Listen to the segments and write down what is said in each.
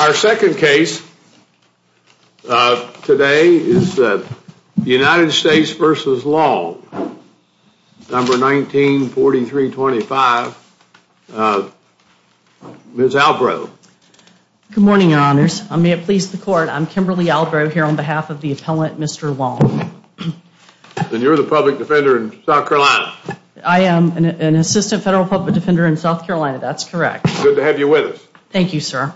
Our second case today is United States v. Long, number 1943-25. Ms. Albrow. Good morning, your honors. May it please the court, I'm Kimberly Albrow here on behalf of the appellant, Mr. Long. And you're the public defender in South Carolina. I am an assistant federal public defender in South Carolina, that's correct. Good to have you with us. Thank you, sir.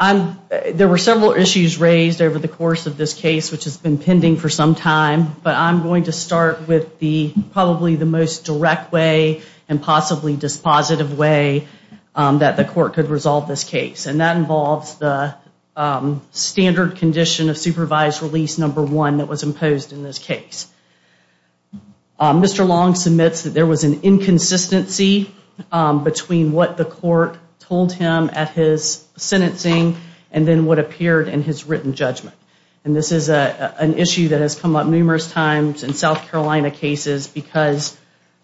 There were several issues raised over the course of this case, which has been pending for some time, but I'm going to start with the probably the most direct way and possibly dispositive way that the court could resolve this case, and that involves the standard condition of supervised release number one that was imposed in this case. Mr. Long submits that there was an inconsistency between what the court told him at his sentencing and then what appeared in his written judgment. And this is an issue that has come up numerous times in South Carolina cases because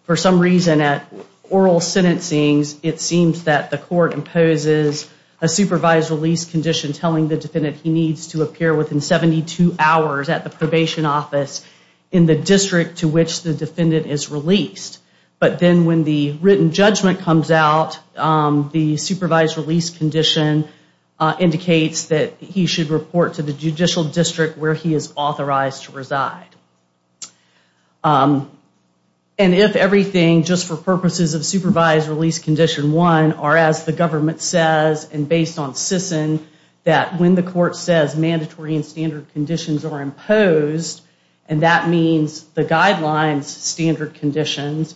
for some reason at oral sentencing, it seems that the court imposes a supervised release condition telling the defendant he needs to appear within 72 hours at the probation office in the district to which the defendant is released. But then when the written judgment comes out, the supervised release condition indicates that he should report to the judicial district where he is authorized to reside. And if everything, just for purposes of supervised release condition one, are as the government says and based on SISN, that when the court says mandatory and standard conditions are imposed, and that means the guidelines standard conditions,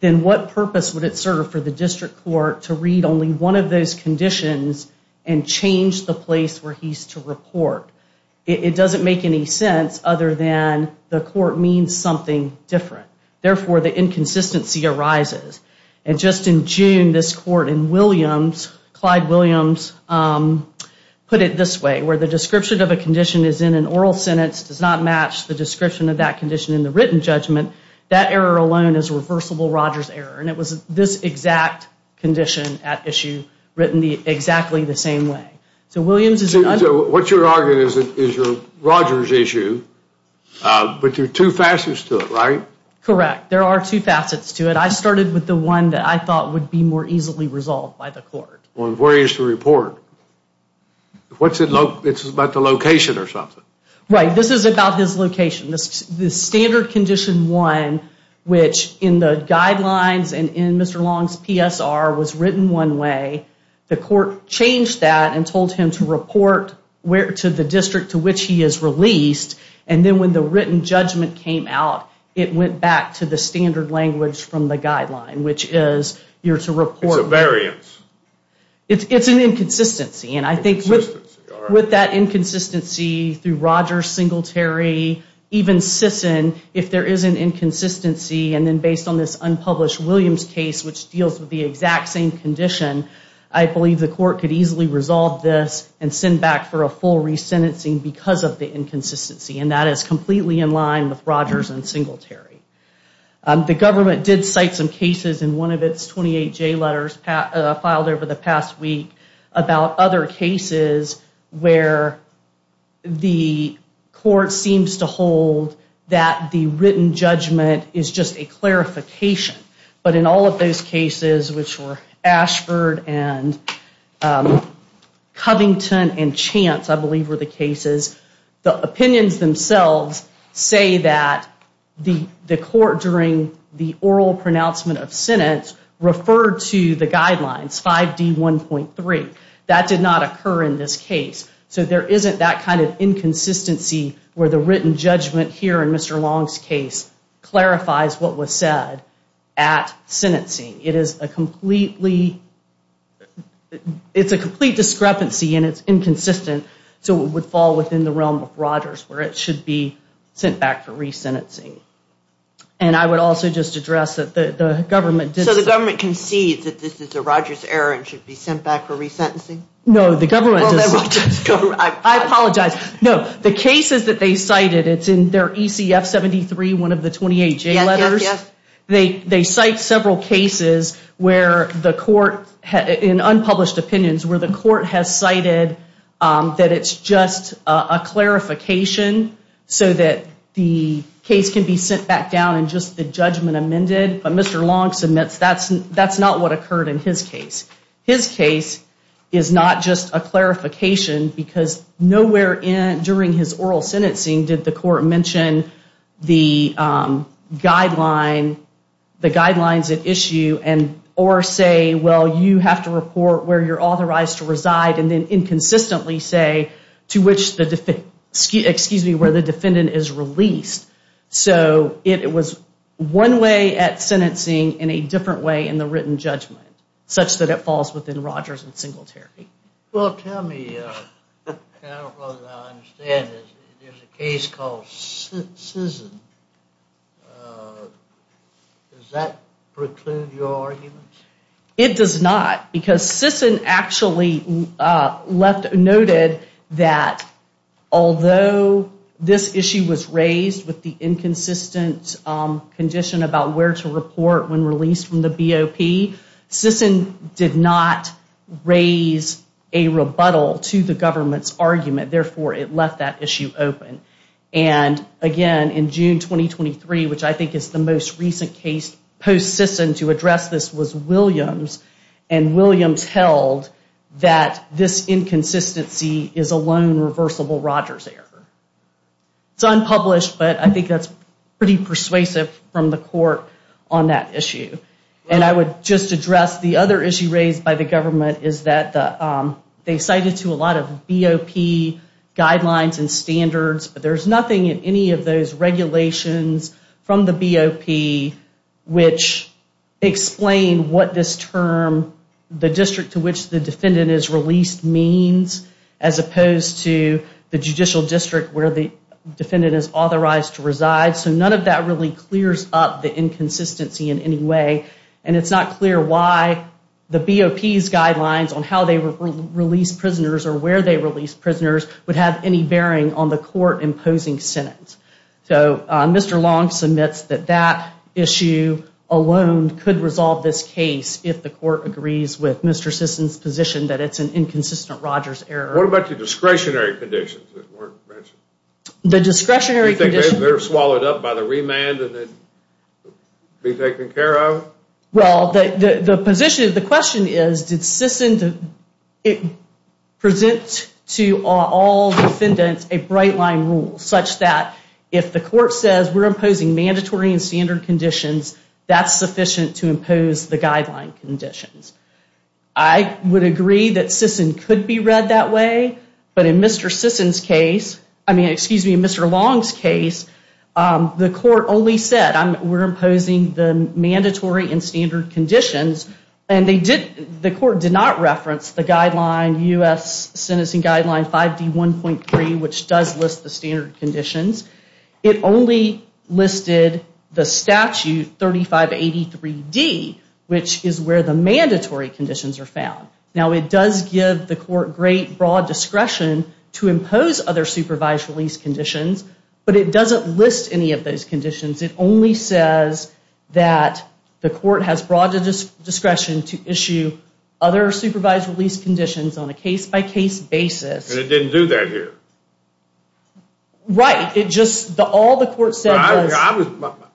then what purpose would it serve for the district court to read only one of those conditions and change the place where he's to report? It doesn't make any sense other than the court means something different. Therefore, the inconsistency arises. And just in June, this court in Williams, Clyde Williams put it this way, where the description of a condition is in an oral sentence, does not match the description of that condition in the written judgment, that error alone is a reversible Rogers error. And it was this exact condition at issue written exactly the same way. So Williams is- So what you're arguing is your Rogers issue, but there are two facets to it, right? Correct. There are two facets to it. I started with the one that I thought would be more easily resolved by the court. On where he is to report, it's about the location or something. Right. This is about his location. This standard condition one, which in the guidelines and in Mr. Long's PSR was written one way. The court changed that and told him to report to the district to which he is released. And then when the written judgment came out, it went back to the standard language from the guideline, which is you're to report- It's a variance. It's an inconsistency. And I think with that inconsistency through Rogers, Singletary, even Sisson, if there is an inconsistency, and then based on this unpublished Williams case, which deals with the exact same condition, I believe the court could easily resolve this and send back for a full re-sentencing because of the inconsistency. And that is completely in line with Rogers and Singletary. The government did cite some cases in one of its 28 J letters filed over the past week about other cases where the court seems to hold that the written judgment is just a clarification. But in all of those cases, which were Ashford and Covington and Chance, I believe were the cases, the opinions themselves say that the court during the oral pronouncement of sentence referred to the guidelines, 5D1.3. That did not occur in this case. So there isn't that kind of inconsistency where the written judgment here in Mr. Long's case clarifies what was said at sentencing. It is a completely- It's a complete discrepancy and it's inconsistent. So it would fall within the realm of Rogers where it should be sent back for re-sentencing. And I would also just address that the government- So the government concedes that this is a Rogers error and should be sent back for re-sentencing? No, the government- Well, then we'll just go- I apologize. No, the cases that they cited, it's in their ECF-73, one of the 28 J letters. Yes, yes, yes. They cite several cases where the court, in unpublished opinions, where the court has cited that it's just a clarification so that the case can be sent back down and just the judgment amended. But Mr. Long submits that's not what occurred in his case. His case is not just a clarification because nowhere during his oral sentencing did the court mention the guidelines at issue or say, well, you have to report where you're authorized to reside and then inconsistently say to which the defendant- excuse me, where the defendant is released. So it was one way at sentencing in a different way in the written judgment such that it falls within Rogers and single therapy. Well, tell me, I don't know that I understand this. There's a case called Sisson. Does that preclude your argument? It does not. Because Sisson actually noted that although this issue was raised with the inconsistent condition about where to report when released from the BOP, Sisson did not raise a rebuttal to the government's argument. Therefore, it left that issue open. And again, in June 2023, which I think is the most recent case post-Sisson to address this was Williams. And Williams held that this inconsistency is a lone reversible Rogers error. It's unpublished, but I think that's pretty persuasive from the court on that issue. And I would just address the other issue raised by the government is that they cited to a lot of BOP guidelines and standards, but there's nothing in any of those regulations from the BOP which explain what this term the district to which the defendant is released means as opposed to the judicial district where the defendant is authorized to reside. So none of that really clears up the inconsistency in any way. And it's not clear why the BOP's guidelines on how they release prisoners or where they release prisoners would have any bearing on the court imposing sentence. So Mr. Long submits that that issue alone could resolve this case if the court agrees with Mr. Sisson's position that it's an inconsistent Rogers error. What about the discretionary conditions that weren't mentioned? The discretionary conditions? They're swallowed up by the remand and then be taken care of? Well, the position, the question is did Sisson present to all defendants a bright line rule such that if the court says we're imposing mandatory and standard conditions, that's sufficient to impose the guideline conditions. I would agree that Sisson could be read that way, but in Mr. Sisson's case, I mean, excuse me, Mr. Long's case, the court only said we're imposing the mandatory and standard conditions, and the court did not reference the guideline U.S. Sentencing Guideline 5D1.3, which does list the standard conditions. It only listed the statute 3583D, which is where the mandatory conditions are found. Now, it does give the court great broad discretion to impose other supervised release conditions, but it doesn't list any of those conditions. It only says that the court has broad discretion to issue other supervised release conditions on a case-by-case basis. And it didn't do that here? Right. It just, all the court said was...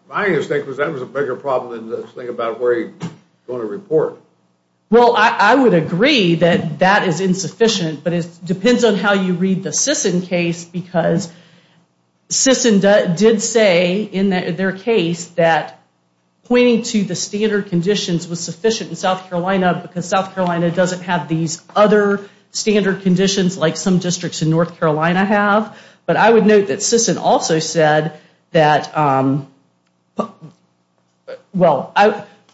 My mistake was that was a bigger problem than this thing about where he's going to report. Well, I would agree that that is insufficient, but it depends on how you read the Sisson case, because Sisson did say in their case that pointing to the standard conditions was sufficient in South Carolina, because South Carolina doesn't have these other standard conditions like some districts in North Carolina have. But I would note that Sisson also said that, well,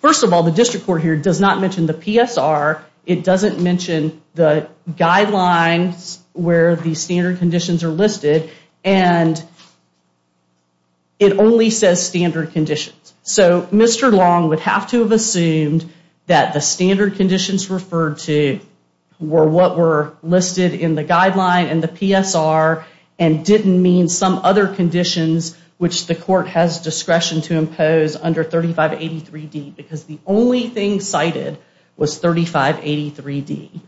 first of all, the district court here does not mention the PSR. It doesn't mention the guidelines where the standard conditions are listed, and it only says standard conditions. So Mr. Long would have to have assumed that the standard conditions referred to were what were listed in the guideline and the PSR and didn't mean some other conditions, which the court has discretion to impose under 3583D, because the only thing cited was 3583D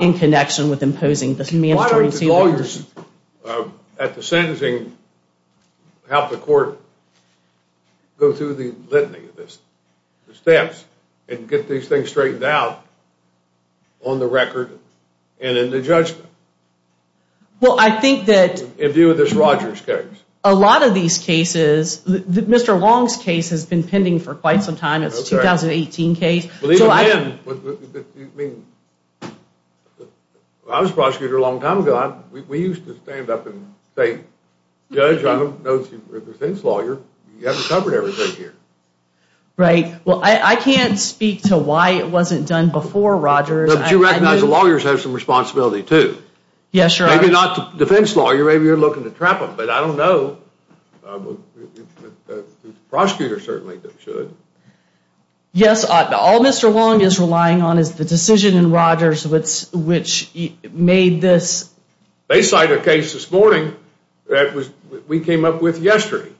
in connection with imposing this mandatory... Why don't the lawyers at the sentencing help the court go through the litany of this, the steps, and get these things straightened out on the record and in the judgment? Well, I think that... In view of this Rogers case. A lot of these cases... Mr. Long's case has been pending for quite some time. It's a 2018 case. I was a prosecutor a long time ago. We used to stand up and say, Judge, I don't know if you're a defense lawyer. You haven't covered everything here. Right. Well, I can't speak to why it wasn't done before, Rogers. But you recognize the lawyers have some responsibility too. Yeah, sure. Maybe not the defense lawyer. Maybe you're looking to trap them. But I don't know. Prosecutors certainly should. Yes. All Mr. Long is relying on is the decision in Rogers, which made this... They cited a case this morning that we came up with yesterday.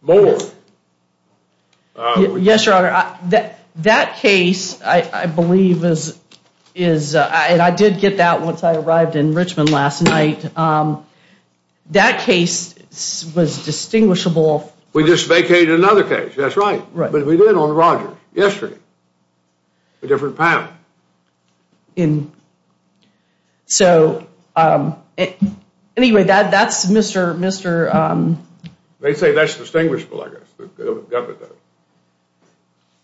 Moore. Yes, Your Honor. That case, I believe, is... I did get that once I arrived in Richmond last night. Um, that case was distinguishable. We just vacated another case. That's right. Right. But we did on Rogers yesterday. A different panel. In... So, um, anyway, that's Mr. um... They say that's distinguishable, I guess.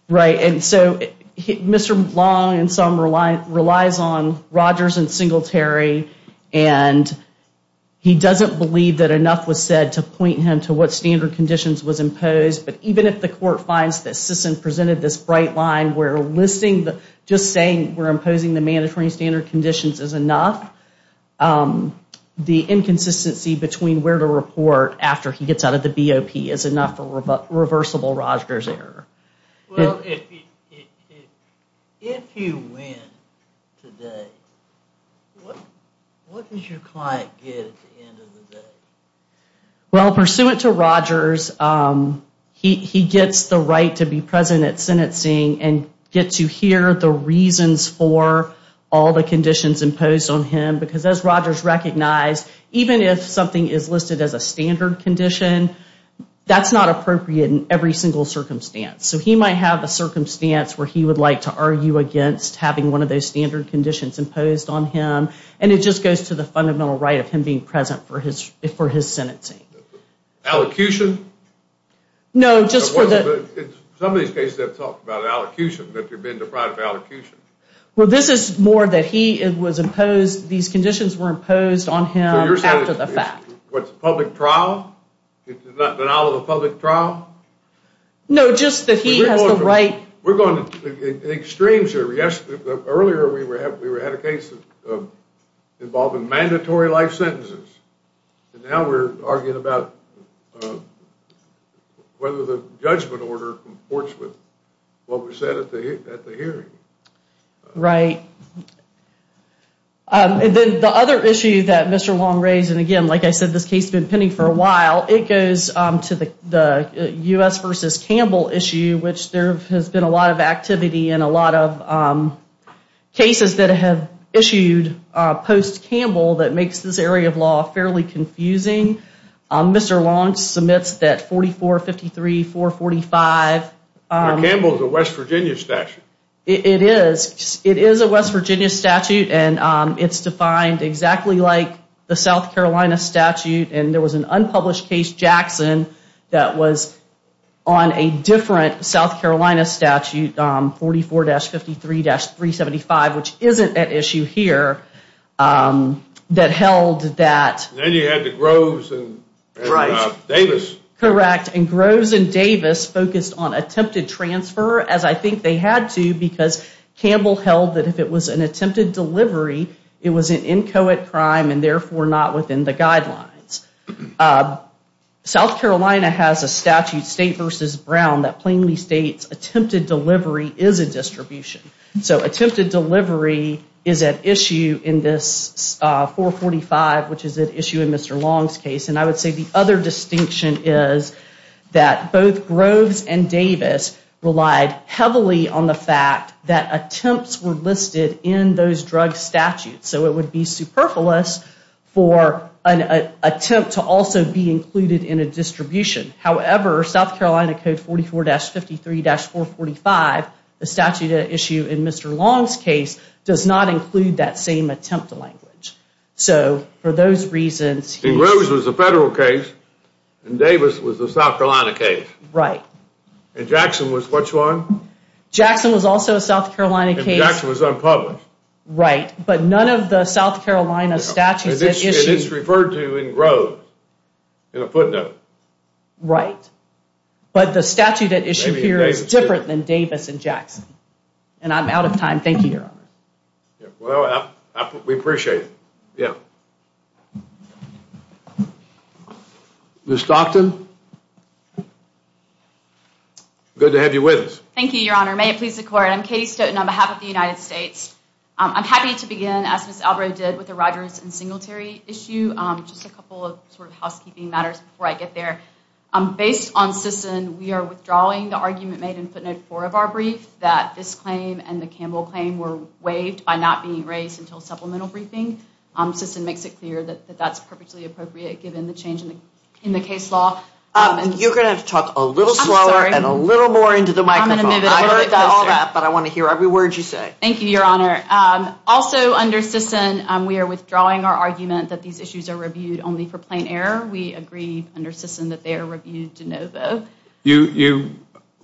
Right. And so Mr. Long and some relies on Rogers and Singletary. And he doesn't believe that enough was said to point him to what standard conditions was imposed. But even if the court finds that Sisson presented this bright line, we're listing the... Just saying we're imposing the mandatory standard conditions is enough. The inconsistency between where to report after he gets out of the BOP is enough for reversible Rogers error. Well, if you win today, what does your client get at the end of the day? Well, pursuant to Rogers, he gets the right to be present at sentencing and get to hear the reasons for all the conditions imposed on him. Because as Rogers recognized, even if something is listed as a standard condition, that's not appropriate in every single circumstance. So he might have a circumstance where he would like to argue against having one of those standard conditions imposed on him. And it just goes to the fundamental right of him being present for his sentencing. Allocution? No, just for the... Some of these cases have talked about allocution, that they've been deprived of allocution. Well, this is more that he was imposed... These conditions were imposed on him after the fact. What's the public trial? It's not denial of the public trial? No, just that he has the right... We're going to extremes here. Yes, earlier we had a case involving mandatory life sentences. And now we're arguing about whether the judgment order comports with what was said at the hearing. Right. And then the other issue that Mr. Wong raised, and again, like I said, this case has been pending for a while, it goes to the U.S. versus Campbell issue, which there has been a lot of activity and a lot of cases that have issued post-Campbell that makes this area of law fairly confusing. Mr. Wong submits that 4453, 445... Campbell is a West Virginia statute. It is a West Virginia statute, and it's defined exactly like the South Carolina statute. And there was an unpublished case, Jackson, that was on a different South Carolina statute, 44-53-375, which isn't at issue here, that held that... Then you had the Groves and Davis. Correct. And Groves and Davis focused on attempted transfer, as I think they had to, because Campbell held that if it was an attempted delivery, it was an inchoate crime and therefore not within the guidelines. South Carolina has a statute, state versus Brown, that plainly states attempted delivery is a distribution. So attempted delivery is at issue in this 445, which is at issue in Mr. Wong's case. And I would say the other distinction is that both Groves and Davis relied heavily on the fact that attempts were listed in those drug statutes. So it would be superfluous for an attempt to also be included in a distribution. However, South Carolina Code 44-53-445, the statute at issue in Mr. Wong's case, does not include that same attempt language. So for those reasons... And Davis was the South Carolina case. Right. And Jackson was which one? Jackson was also a South Carolina case. And Jackson was unpublished. Right. But none of the South Carolina statutes at issue... And it's referred to in Groves, in a footnote. Right. But the statute at issue here is different than Davis and Jackson. And I'm out of time. Thank you, Your Honor. Well, we appreciate it. Yeah. Ms. Stockton? Good to have you with us. Thank you, Your Honor. May it please the court. I'm Katie Stoughton on behalf of the United States. I'm happy to begin, as Ms. Albrow did, with the Rogers and Singletary issue. Just a couple of sort of housekeeping matters before I get there. Based on Sisson, we are withdrawing the argument made in footnote 4 of our brief that this claim and the Campbell claim were waived by not being raised until supplemental briefing. Sisson makes it clear that that's perfectly appropriate given the change in the case law. You're going to have to talk a little slower and a little more into the microphone. I heard all that, but I want to hear every word you say. Thank you, Your Honor. Also under Sisson, we are withdrawing our argument that these issues are reviewed only for plain error. We agree under Sisson that they are reviewed de novo. You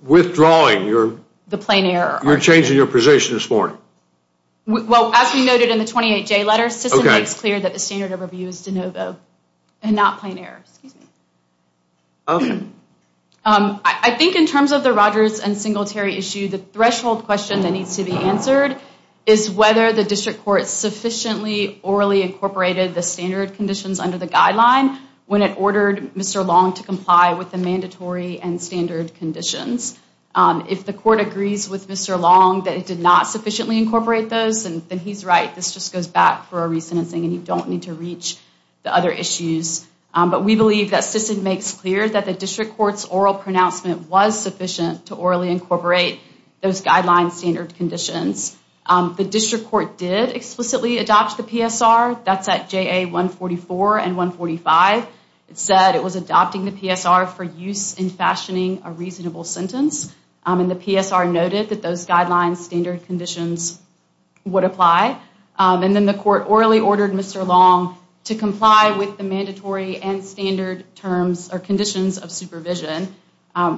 withdrawing your... The plain error. You're changing your position this morning. Well, as we noted in the 28-J letter, Sisson makes clear that the standard of review is de novo. Not plain error, excuse me. I think in terms of the Rogers and Singletary issue, the threshold question that needs to be answered is whether the district court sufficiently orally incorporated the standard conditions under the guideline when it ordered Mr. Long to comply with the mandatory and standard conditions. If the court agrees with Mr. Long that it did not sufficiently incorporate those, then he's right. This just goes back for a re-sentencing and you don't need to reach the other issues. But we believe that Sisson makes clear that the district court's oral pronouncement was sufficient to orally incorporate those guidelines standard conditions. The district court did explicitly adopt the PSR. That's at JA 144 and 145. It said it was adopting the PSR for use in fashioning a reasonable sentence. And the PSR noted that those guidelines standard conditions would apply. And then the court orally ordered Mr. Long to comply with the mandatory and standard terms or conditions of supervision,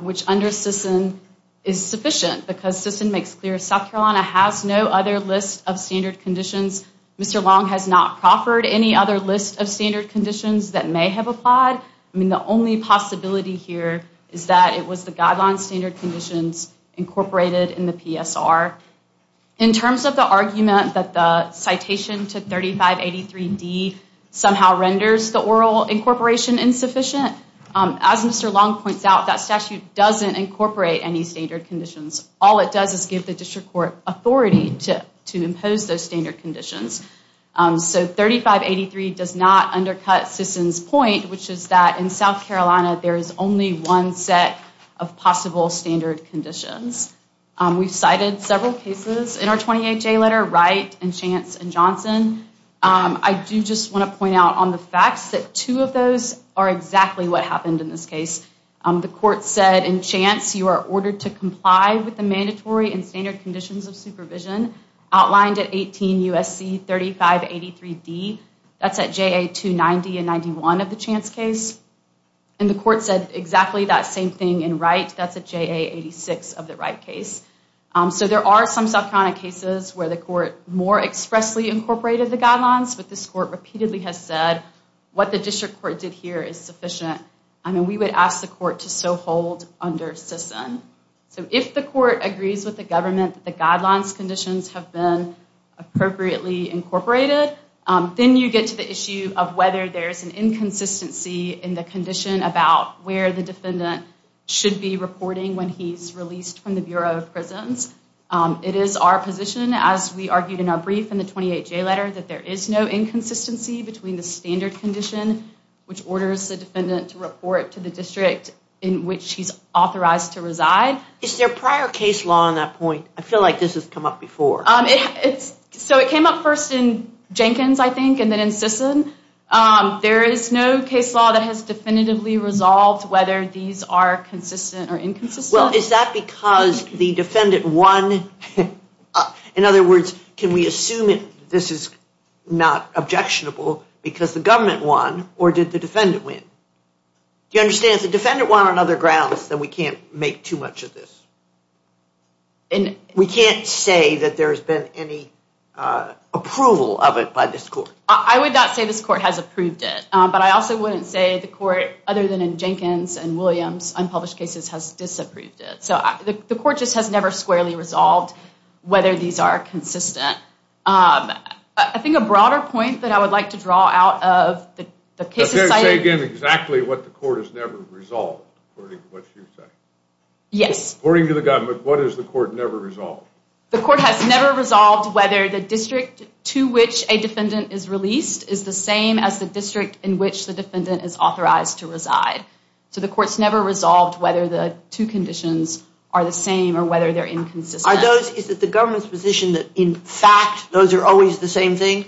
which under Sisson is sufficient because Sisson makes clear South Carolina has no other list of standard conditions. Mr. Long has not proffered any other list of standard conditions that may have applied. I mean, the only possibility here is that it was the guideline standard conditions incorporated in the PSR. In terms of the argument that the citation to 3583D somehow renders the oral incorporation insufficient, as Mr. Long points out, that statute doesn't incorporate any standard conditions. All it does is give the district court authority to impose those standard conditions. So 3583 does not undercut Sisson's point, which is that in South Carolina, there is only one set of possible standard conditions. We've cited several cases in our 28-J letter, Wright and Chance and Johnson. I do just want to point out on the facts that two of those are exactly what happened in this case. The court said in Chance, you are ordered to comply with the mandatory and standard conditions of supervision outlined at 18 U.S.C. 3583D. That's at JA 290 and 91 of the Chance case. And the court said exactly that same thing in Wright. That's at JA 86 of the Wright case. So there are some South Carolina cases where the court more expressly incorporated the guidelines, but this court repeatedly has said what the district court did here is sufficient. I mean, we would ask the court to so hold under Sisson. So if the court agrees with the government that the guidelines conditions have been appropriately incorporated, then you get to the issue of whether there's an inconsistency in the condition about where the defendant should be reporting when he's released from the Bureau of Prisons. It is our position, as we argued in our brief in the 28-J letter, that there is no inconsistency between the standard condition, which orders the defendant to report to the district in which he's authorized to reside. Is there prior case law on that point? I feel like this has come up before. So it came up first in Jenkins, I think, and then in Sisson. There is no case law that has definitively resolved whether these are consistent or inconsistent. Well, is that because the defendant won? In other words, can we assume this is not objectionable because the government won, or did the defendant win? Do you understand if the defendant won on other grounds, then we can't make too much of this. We can't say that there has been any approval of it by this court. I would not say this court has approved it. But I also wouldn't say the court, other than in Jenkins and Williams, unpublished cases, has disapproved it. So the court just has never squarely resolved whether these are consistent. I think a broader point that I would like to draw out of the cases cited... Say again exactly what the court has never resolved, according to what you say. Yes. According to the government, what has the court never resolved? The court has never resolved whether the district to which a defendant is released is the same as the district in which the defendant is authorized to reside. So the court's never resolved whether the two conditions are the same or whether they're inconsistent. Is it the government's position that, in fact, those are always the same thing?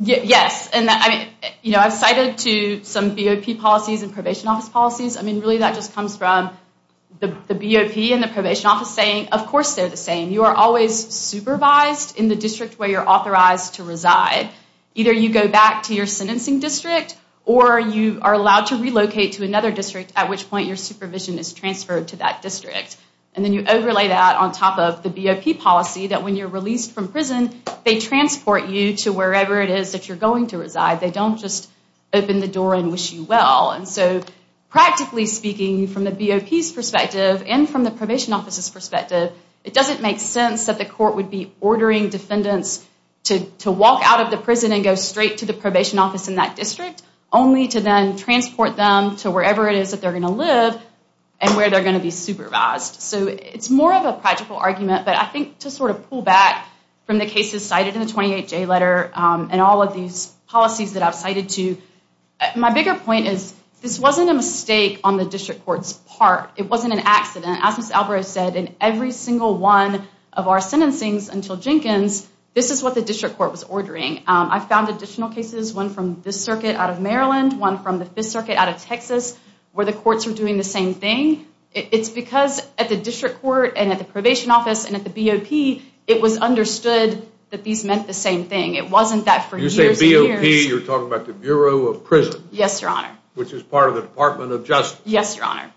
Yes. And I've cited to some BOP policies and probation office policies. I mean, really that just comes from the BOP and the probation office saying, of course, they're the same. You are always supervised in the district where you're authorized to reside. Either you go back to your sentencing district or you are allowed to relocate to another district at which point your supervision is transferred to that district. And then you overlay that on top of the BOP policy that when you're released from prison, they transport you to wherever it is that you're going to reside. They don't just open the door and wish you well. And so practically speaking, from the BOP's perspective and from the probation office's perspective, it doesn't make sense that the court would be ordering defendants to walk out of the prison and go straight to the probation office in that district only to then transport them to wherever it is that they're going to live and where they're going to be supervised. So it's more of a practical argument, but I think to sort of pull back from the cases cited in the 28J letter and all of these policies that I've cited to, my bigger point is this wasn't a mistake on the district court's part. It wasn't an accident. As Ms. Alvarez said, in every single one of our sentencings until Jenkins, this is what the district court was ordering. I found additional cases, one from the circuit out of Maryland, one from the fifth circuit out of Texas where the courts were doing the same thing. It's because at the district court and at the probation office and at the BOP, it was understood that these meant the same thing. It wasn't that for years and years. You say BOP, you're talking about the Bureau of Prison. Yes, your honor. Which is part of the Department of Justice. Yes, your honor.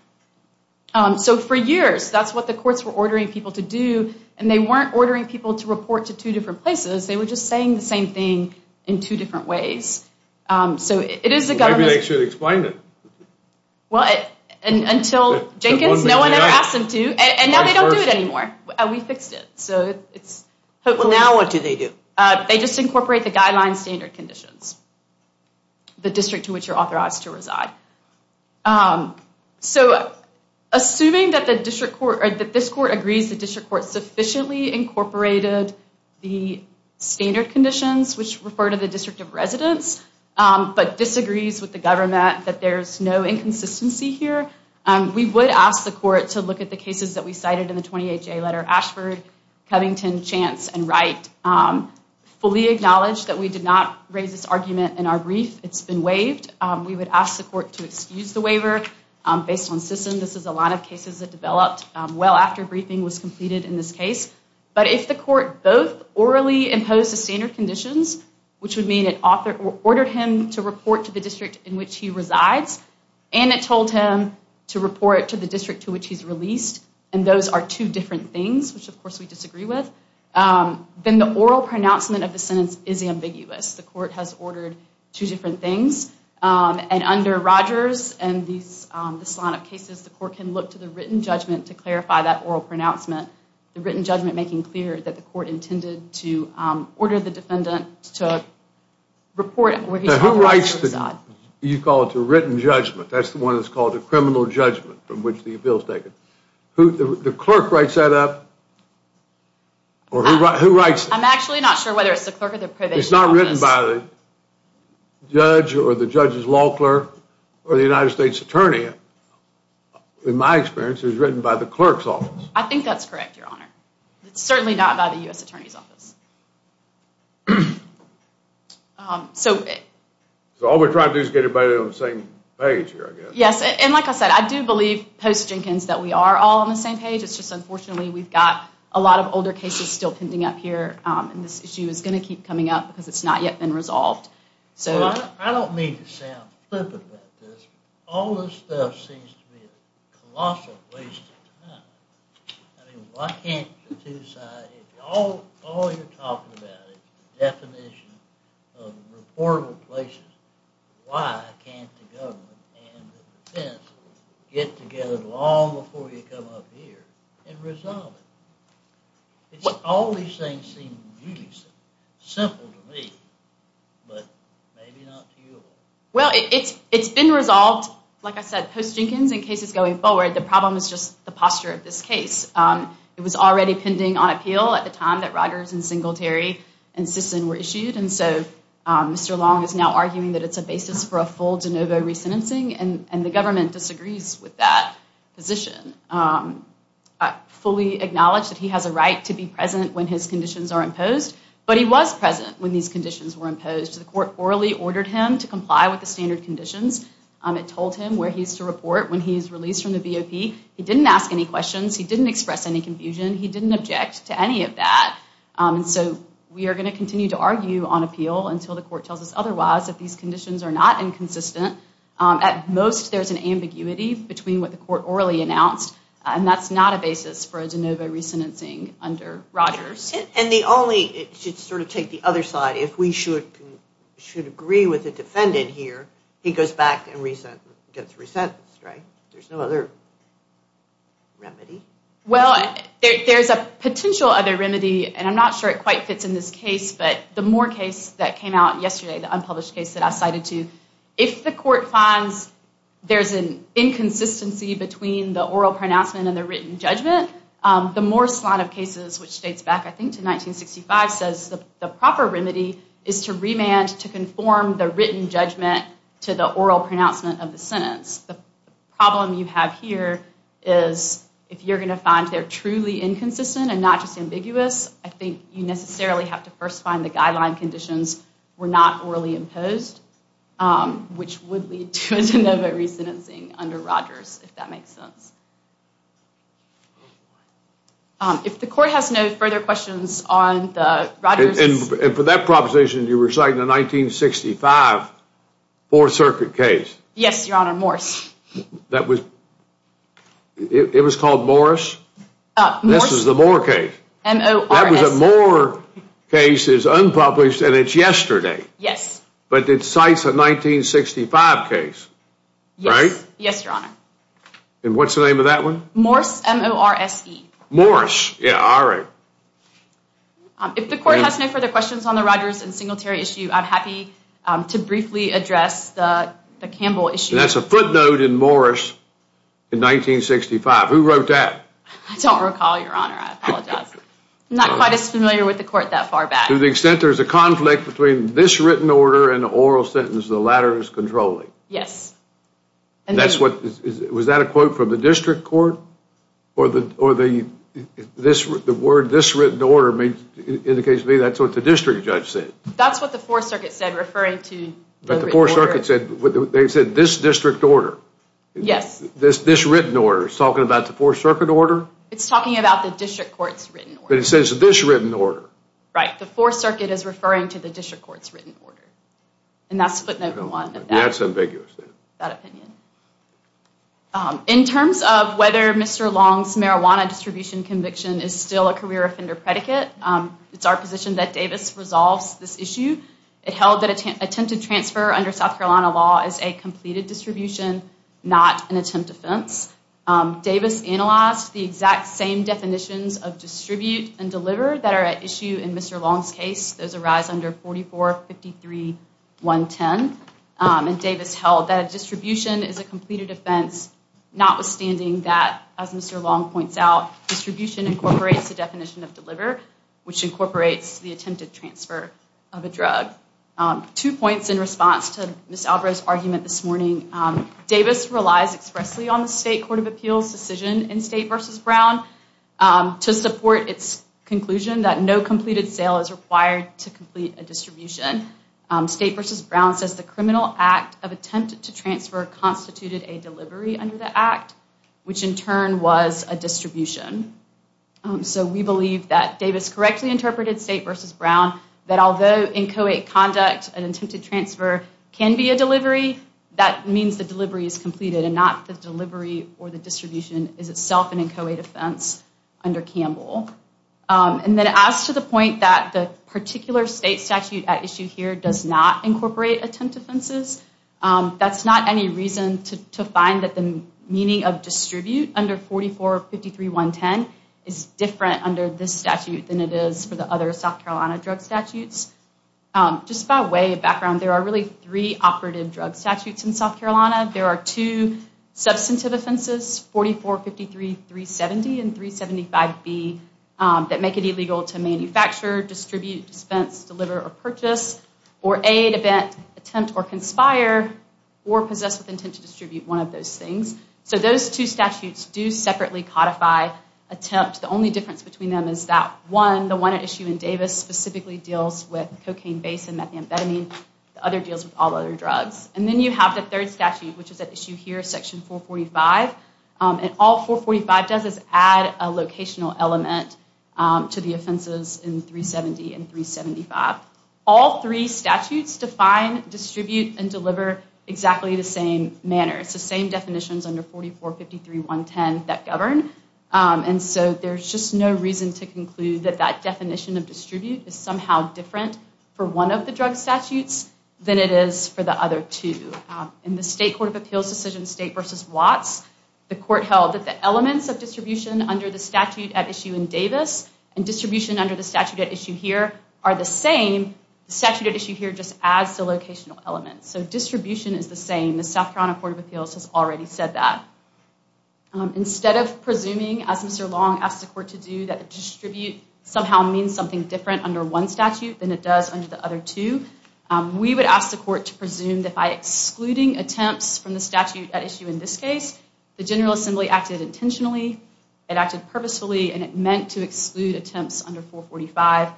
And so for years, that's what the courts were ordering people to do. And they weren't ordering people to report to two different places. They were just saying the same thing in two different ways. So it is a government- Maybe they should explain it. Well, until Jenkins, no one ever asked them to. And now they don't do it anymore. We fixed it. So it's- But now what do they do? They just incorporate the guideline standard conditions, the district to which you're authorized to reside. So assuming that the district court, or that this court agrees the district court sufficiently incorporated the standard conditions, which refer to the district of residence, but disagrees with the government, that there's no inconsistency here, we would ask the court to look at the cases that we cited in the 28-J letter, Ashford, Covington, Chance, and Wright. Fully acknowledge that we did not raise this argument in our brief. It's been waived. We would ask the court to excuse the waiver based on system. This is a lot of cases that developed well after briefing was completed in this case. But if the court both orally imposed the standard conditions, which would mean it ordered him to report to the district in which he resides, and it told him to report to the district to which he's released, and those are two different things, which of course we disagree with, then the oral pronouncement of the sentence is ambiguous. The court has ordered two different things. And under Rogers and this line of cases, the court can look to the written judgment to clarify that oral pronouncement, the written judgment making clear that the court intended to order the defendant to report where he's currently residing. Now who writes the, you call it the written judgment, that's the one that's called the criminal judgment from which the appeal is taken. The clerk writes that up, or who writes it? I'm actually not sure whether it's the clerk or the probation office. It's not written by the judge or the judge's law clerk or the United States attorney. In my experience, it was written by the clerk's office. I think that's correct, your honor. It's certainly not by the U.S. attorney's office. So all we're trying to do is get everybody on the same page here, I guess. Yes, and like I said, I do believe post-Jenkins that we are all on the same page. It's just unfortunately we've got a lot of older cases still pending up here, and this issue is going to keep coming up because it's not yet been resolved. I don't mean to sound flippant about this. All this stuff seems to be a colossal waste of time. I mean, why can't the two sides, all you're talking about is the definition of reportable places. Why can't the government and the defense get together long before you come up here and resolve it? It's all these things seem really simple to me, but maybe not to you all. Well, it's been resolved, like I said, post-Jenkins in cases going forward. The problem is just the posture of this case. It was already pending on appeal at the time that Rogers and Singletary and Sisson were issued, and so Mr. Long is now arguing that it's a basis for a full de novo re-sentencing, and the government disagrees with that position. I fully acknowledge that he has a right to be present when his conditions are imposed, but he was present when these conditions were imposed. The court orally ordered him to comply with the standard conditions. It told him where he's to report when he's released from the BOP. He didn't ask any questions. He didn't express any confusion. He didn't object to any of that, and so we are going to continue to argue on appeal until the court tells us otherwise that these conditions are not inconsistent. At most, there's an ambiguity between what the court orally announced, and that's not a basis for a de novo re-sentencing under Rogers. And the only... It should sort of take the other side. If we should agree with the defendant here, he goes back and gets re-sentenced, right? There's no other remedy? Well, there's a potential other remedy, and I'm not sure it quite fits in this case, but the Moore case that came out yesterday, the unpublished case that I cited to, if the court finds there's an inconsistency between the oral pronouncement and the written judgment, the Moore slot of cases, which dates back, I think, to 1965, says the proper remedy is to remand to conform the written judgment to the oral pronouncement of the sentence. The problem you have here is if you're going to find they're truly inconsistent and not just ambiguous, I think you necessarily have to first find the guideline conditions were not orally imposed. Which would lead to a de novo re-sentencing under Rogers, if that makes sense. If the court has no further questions on the Rogers... And for that proposition, you were citing a 1965 Fourth Circuit case. Yes, Your Honor, Morris. That was... It was called Morris? This is the Moore case. M-O-R-S. That was a Moore case. It's unpublished and it's yesterday. Yes. But it cites a 1965 case, right? Yes, Your Honor. And what's the name of that one? Morris, M-O-R-S-E. Morris, yeah, all right. If the court has no further questions on the Rogers and Singletary issue, I'm happy to briefly address the Campbell issue. That's a footnote in Morris in 1965. Who wrote that? I don't recall, Your Honor. I apologize. I'm not quite as familiar with the court that far back. To the extent there's a conflict between this written order and the oral sentence, the latter is controlling. Yes. And that's what... Was that a quote from the district court? Or the word, this written order, indicates to me that's what the district judge said. That's what the Fourth Circuit said referring to... But the Fourth Circuit said... They said this district order. Yes. This written order is talking about the Fourth Circuit order? It's talking about the district court's written order. But it says this written order. Right. The Fourth Circuit is referring to the district court's written order. And that's footnote one. That's ambiguous then. That opinion. In terms of whether Mr. Long's marijuana distribution conviction is still a career offender predicate, it's our position that Davis resolves this issue. It held that attempted transfer under South Carolina law is a completed distribution, not an attempt offense. Davis analyzed the exact same definitions of distribute and deliver that are at issue in Mr. Long's case. Those arise under 44-53-110. And Davis held that distribution is a completed offense, notwithstanding that, as Mr. Long points out, distribution incorporates the definition of deliver, which incorporates the attempted transfer of a drug. Two points in response to Ms. Alvarez's argument this morning. Davis relies expressly on the state court of appeals decision in State v. Brown. To support its conclusion that no completed sale is required to complete a distribution, State v. Brown says the criminal act of attempt to transfer constituted a delivery under the act, which in turn was a distribution. So we believe that Davis correctly interpreted State v. Brown that although inchoate conduct and attempted transfer can be a delivery, that means the delivery is completed and not the delivery or the distribution is itself an inchoate offense under Campbell. And then as to the point that the particular state statute at issue here does not incorporate attempt offenses, that's not any reason to find that the meaning of distribute under 44-53-110 is different under this statute than it is for the other South Carolina drug statutes. Just by way of background, there are really three operative drug statutes in South Carolina. There are two substantive offenses, 44-53-370 and 375B, that make it illegal to manufacture, distribute, dispense, deliver, or purchase, or aid, event, attempt, or conspire, or possess with intent to distribute one of those things. So those two statutes do separately codify attempt. The only difference between them is that one, the one at issue in Davis specifically deals with cocaine-based and methamphetamine. The other deals with all other drugs. And then you have the third statute, which is at issue here, section 445, and all 445 does is add a locational element to the offenses in 370 and 375. All three statutes define, distribute, and deliver exactly the same manner. It's the same definitions under 44-53-110 that govern. And so there's just no reason to conclude that that definition of distribute is somehow different for one of the drug statutes than it is for the other two. In the State Court of Appeals decision, State v. Watts, the court held that the elements of distribution under the statute at issue in Davis and distribution under the statute at issue here are the same, the statute at issue here just adds the locational element. So distribution is the same. The South Carolina Court of Appeals has already said that. Instead of presuming, as Mr. Long asked the court to do, that distribute somehow means something different under one statute than it does under the other two, we would ask the court to presume that by excluding attempts from the statute at issue in this case, the General Assembly acted intentionally, it acted purposefully, and it meant to exclude attempts under 445.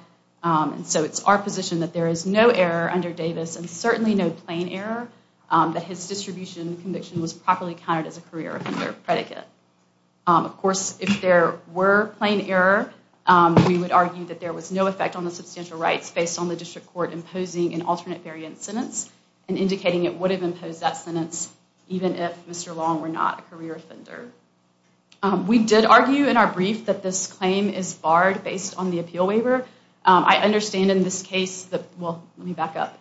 And so it's our position that there is no error under Davis and certainly no plain error that his distribution conviction was properly counted as a career offender predicate. Of course, if there were plain error, we would argue that there was no effect on the substantial rights based on the district court imposing an alternate variant sentence and indicating it would have imposed that sentence even if Mr. Long were not a career offender. We did argue in our brief that this claim is barred based on the appeal waiver. I understand in this case that, well, let me back up.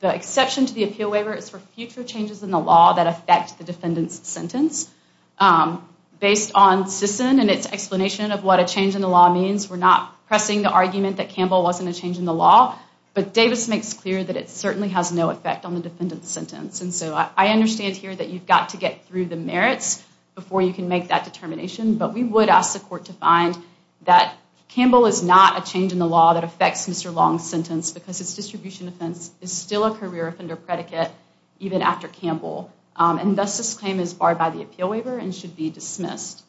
The exception to the appeal waiver is for future changes in the law that affect the defendant's sentence. Based on Sisson and its explanation of what a change in the law means, we're not pressing the argument that Campbell wasn't a change in the law, but Davis makes clear that it certainly has no effect on the defendant's sentence. And so I understand here that you've got to get through the merits before you can make that determination, but we would ask the court to find that Campbell is not a change in the law that affects Mr. Long's sentence because his distribution offense is still a career offender predicate, even after Campbell. And thus, this claim is barred by the appeal waiver and should be dismissed.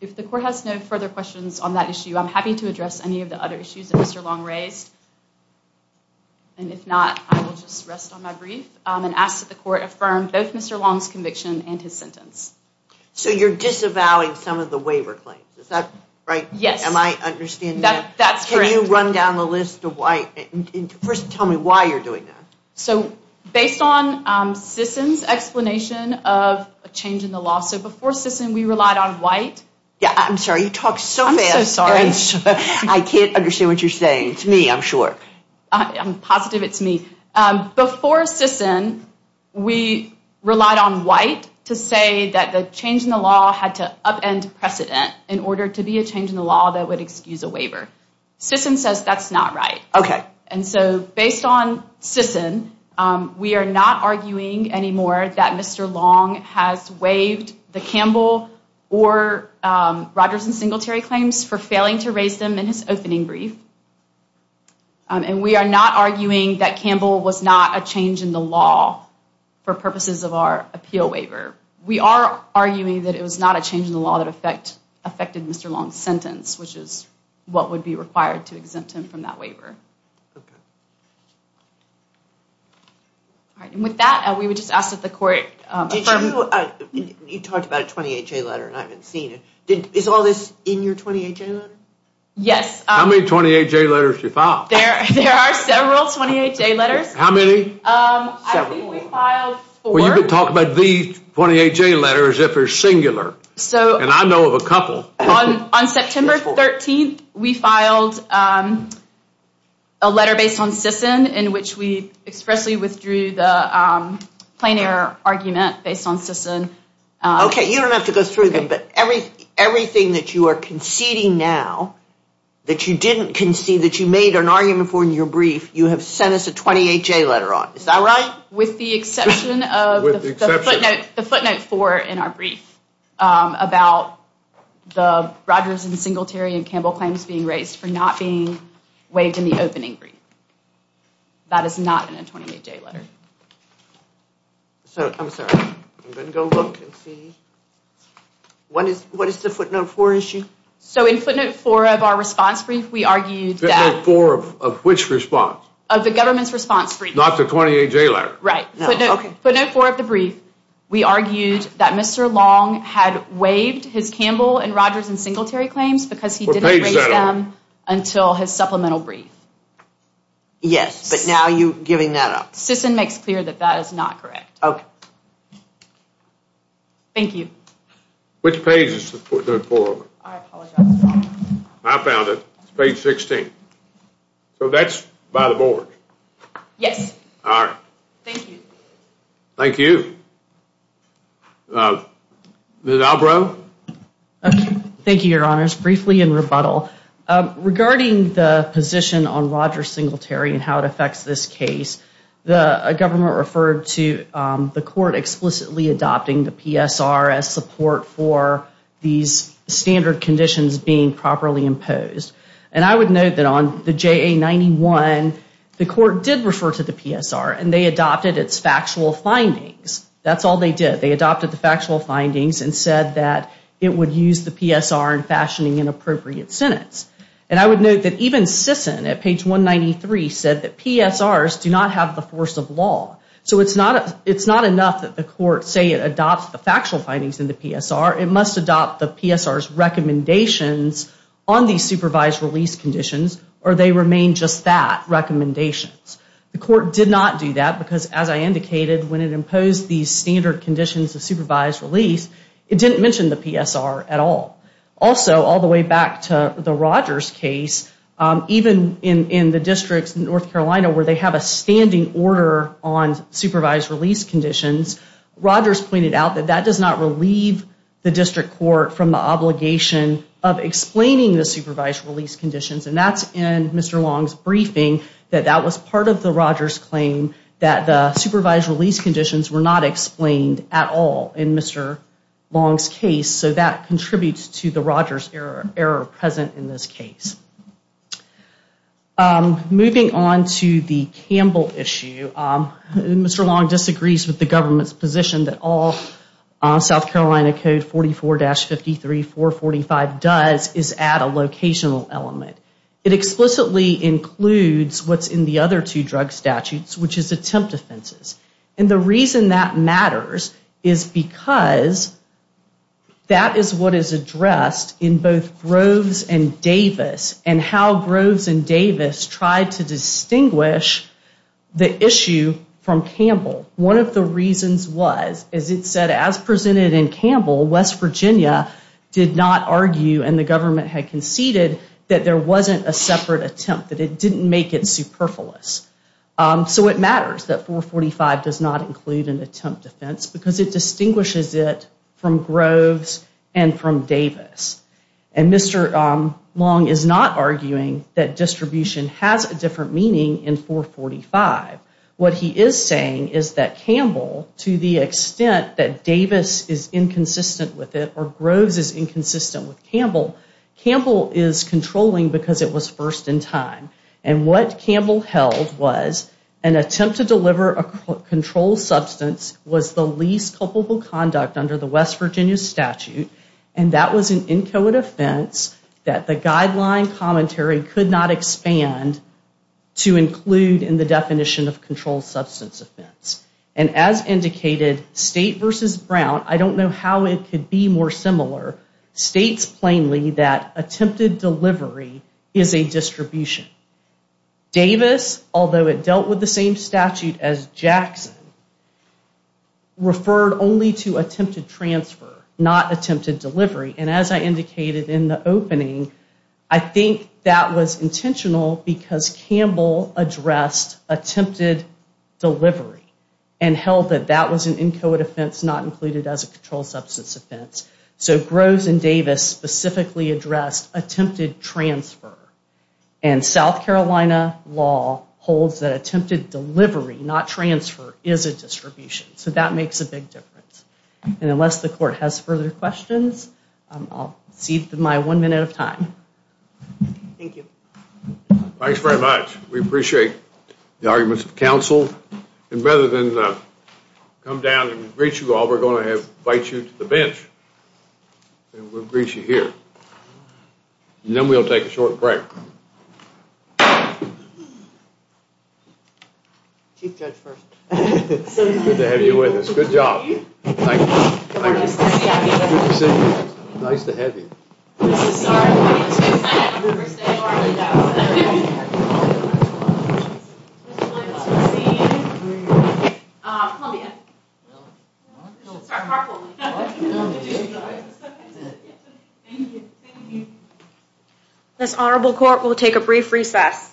If the court has no further questions on that issue, I'm happy to address any of the other issues that Mr. Long raised. And if not, I will just rest on my brief and ask that the court affirm both Mr. Long's conviction and his sentence. So you're disavowing some of the waiver claims, is that right? Yes. Am I understanding that? That's correct. Can you run down the list of why? First, tell me why you're doing that. So based on Sisson's explanation of a change in the law, so before Sisson, we relied on White. Yeah, I'm sorry. You talk so fast. I'm so sorry. I can't understand what you're saying. It's me, I'm sure. I'm positive it's me. Before Sisson, we relied on White to say that the change in the law had to upend precedent in order to be a change in the law that would excuse a waiver. Sisson says that's not right. Okay. And so based on Sisson, we are not arguing anymore that Mr. Long has waived the Campbell or Rogers and Singletary claims for failing to raise them in his opening brief. And we are not arguing that Campbell was not a change in the law for purposes of our appeal waiver. We are arguing that it was not a change in the law that affected Mr. Long's sentence, which is what would be required to exempt him from that waiver. Okay. All right. And with that, we would just ask if the court affirmed- Did you, you talked about a 28-J letter and I haven't seen it. Is all this in your 28-J letter? Yes. How many 28-J letters did you file? There are several 28-J letters. How many? I think we filed four. Well, you've been talking about these 28-J letters if they're singular. So- And I know of a couple. On September 13th, we filed a letter based on Sisson in which we expressly withdrew the plain error argument based on Sisson. Okay. You don't have to go through them, but everything that you are conceding now that you didn't concede, that you made an argument for in your brief, you have sent us a 28-J letter on. Is that right? With the exception of- With the exception. The footnote four in our brief about the Rogers and Singletary and Campbell claims being raised for not being waived in the opening brief. That is not in a 28-J letter. So, I'm sorry. I'm going to go look and see. What is the footnote four issue? So, in footnote four of our response brief, we argued that- Footnote four of which response? Of the government's response brief. Not the 28-J letter. Right. Footnote four of the brief, we argued that Mr. Long had waived his Campbell and Rogers and Singletary claims because he didn't raise them until his supplemental brief. Yes, but now you're giving that up. Sisson makes clear that that is not correct. Okay. Thank you. Which page is the footnote four of it? I apologize, Your Honor. I found it. It's page 16. So, that's by the board? Yes. All right. Thank you. Thank you. Ms. Albrow? Thank you, Your Honors. Briefly in rebuttal, regarding the position on Rogers Singletary and how it affects this case, the government referred to the court explicitly adopting the PSR as support for these standard conditions being properly imposed. And I would note that on the JA-91, the court did refer to the PSR and they adopted its factual findings. That's all they did. They adopted the factual findings and said that it would use the PSR in fashioning an appropriate sentence. And I would note that even Sisson at page 193 said that PSRs do not have the force of law. So, it's not enough that the court say it adopts the factual findings in the PSR. It must adopt the PSR's recommendations on these supervised release conditions or they remain just that, recommendations. The court did not do that because as I indicated, when it imposed these standard conditions of supervised release, it didn't mention the PSR at all. Also, all the way back to the Rogers case, even in the districts in North Carolina where they have a standing order on supervised release conditions, Rogers pointed out that that does not relieve the district court from the obligation of explaining the supervised release conditions. And that's in Mr. Long's briefing that that was part of the Rogers claim that the supervised release conditions were not explained at all in Mr. Long's case. So, that contributes to the Rogers error present in this case. Moving on to the Campbell issue, Mr. Long disagrees with the government's position that all South Carolina Code 44-53, 445 does is add a locational element. It explicitly includes what's in the other two drug statutes, which is attempt offenses. And the reason that matters is because that is what is addressed in both Groves and Davis and how Groves and Davis tried to distinguish the issue from Campbell. One of the reasons was, as it said, as presented in Campbell, West Virginia did not argue and the government had conceded that there wasn't a separate attempt, that it didn't make it superfluous. So, it matters that 445 does not include an attempt offense because it distinguishes it from Groves and from Davis. And Mr. Long is not arguing that distribution has a different meaning in 445. What he is saying is that Campbell, to the extent that Davis is inconsistent with it or Groves is inconsistent with Campbell, Campbell is controlling because it was first in time. And what Campbell held was an attempt to deliver a controlled substance was the least culpable conduct under the West Virginia statute and that was an inchoate offense that the guideline commentary could not expand to include in the definition of controlled substance offense. And as indicated, State versus Brown, I don't know how it could be more similar, states plainly that attempted delivery is a distribution. Davis, although it dealt with the same statute as Jackson, referred only to attempted transfer, not attempted delivery. And as I indicated in the opening, I think that was intentional because Campbell addressed attempted delivery and held that that was an inchoate offense not included as a controlled substance offense. So, Groves and Davis specifically addressed attempted transfer. And South Carolina law holds that attempted delivery, not transfer, is a distribution. So, that makes a big difference. And unless the court has further questions, I'll cede my one minute of time. Thank you. Thanks very much. We appreciate the arguments of counsel. And rather than come down and greet you all, we're going to invite you to the bench and we'll greet you here. And then we'll take a short break. Chief Judge first. Good to have you with us. Good job. Nice to see you. Nice to have you. This honorable court will take a brief recess.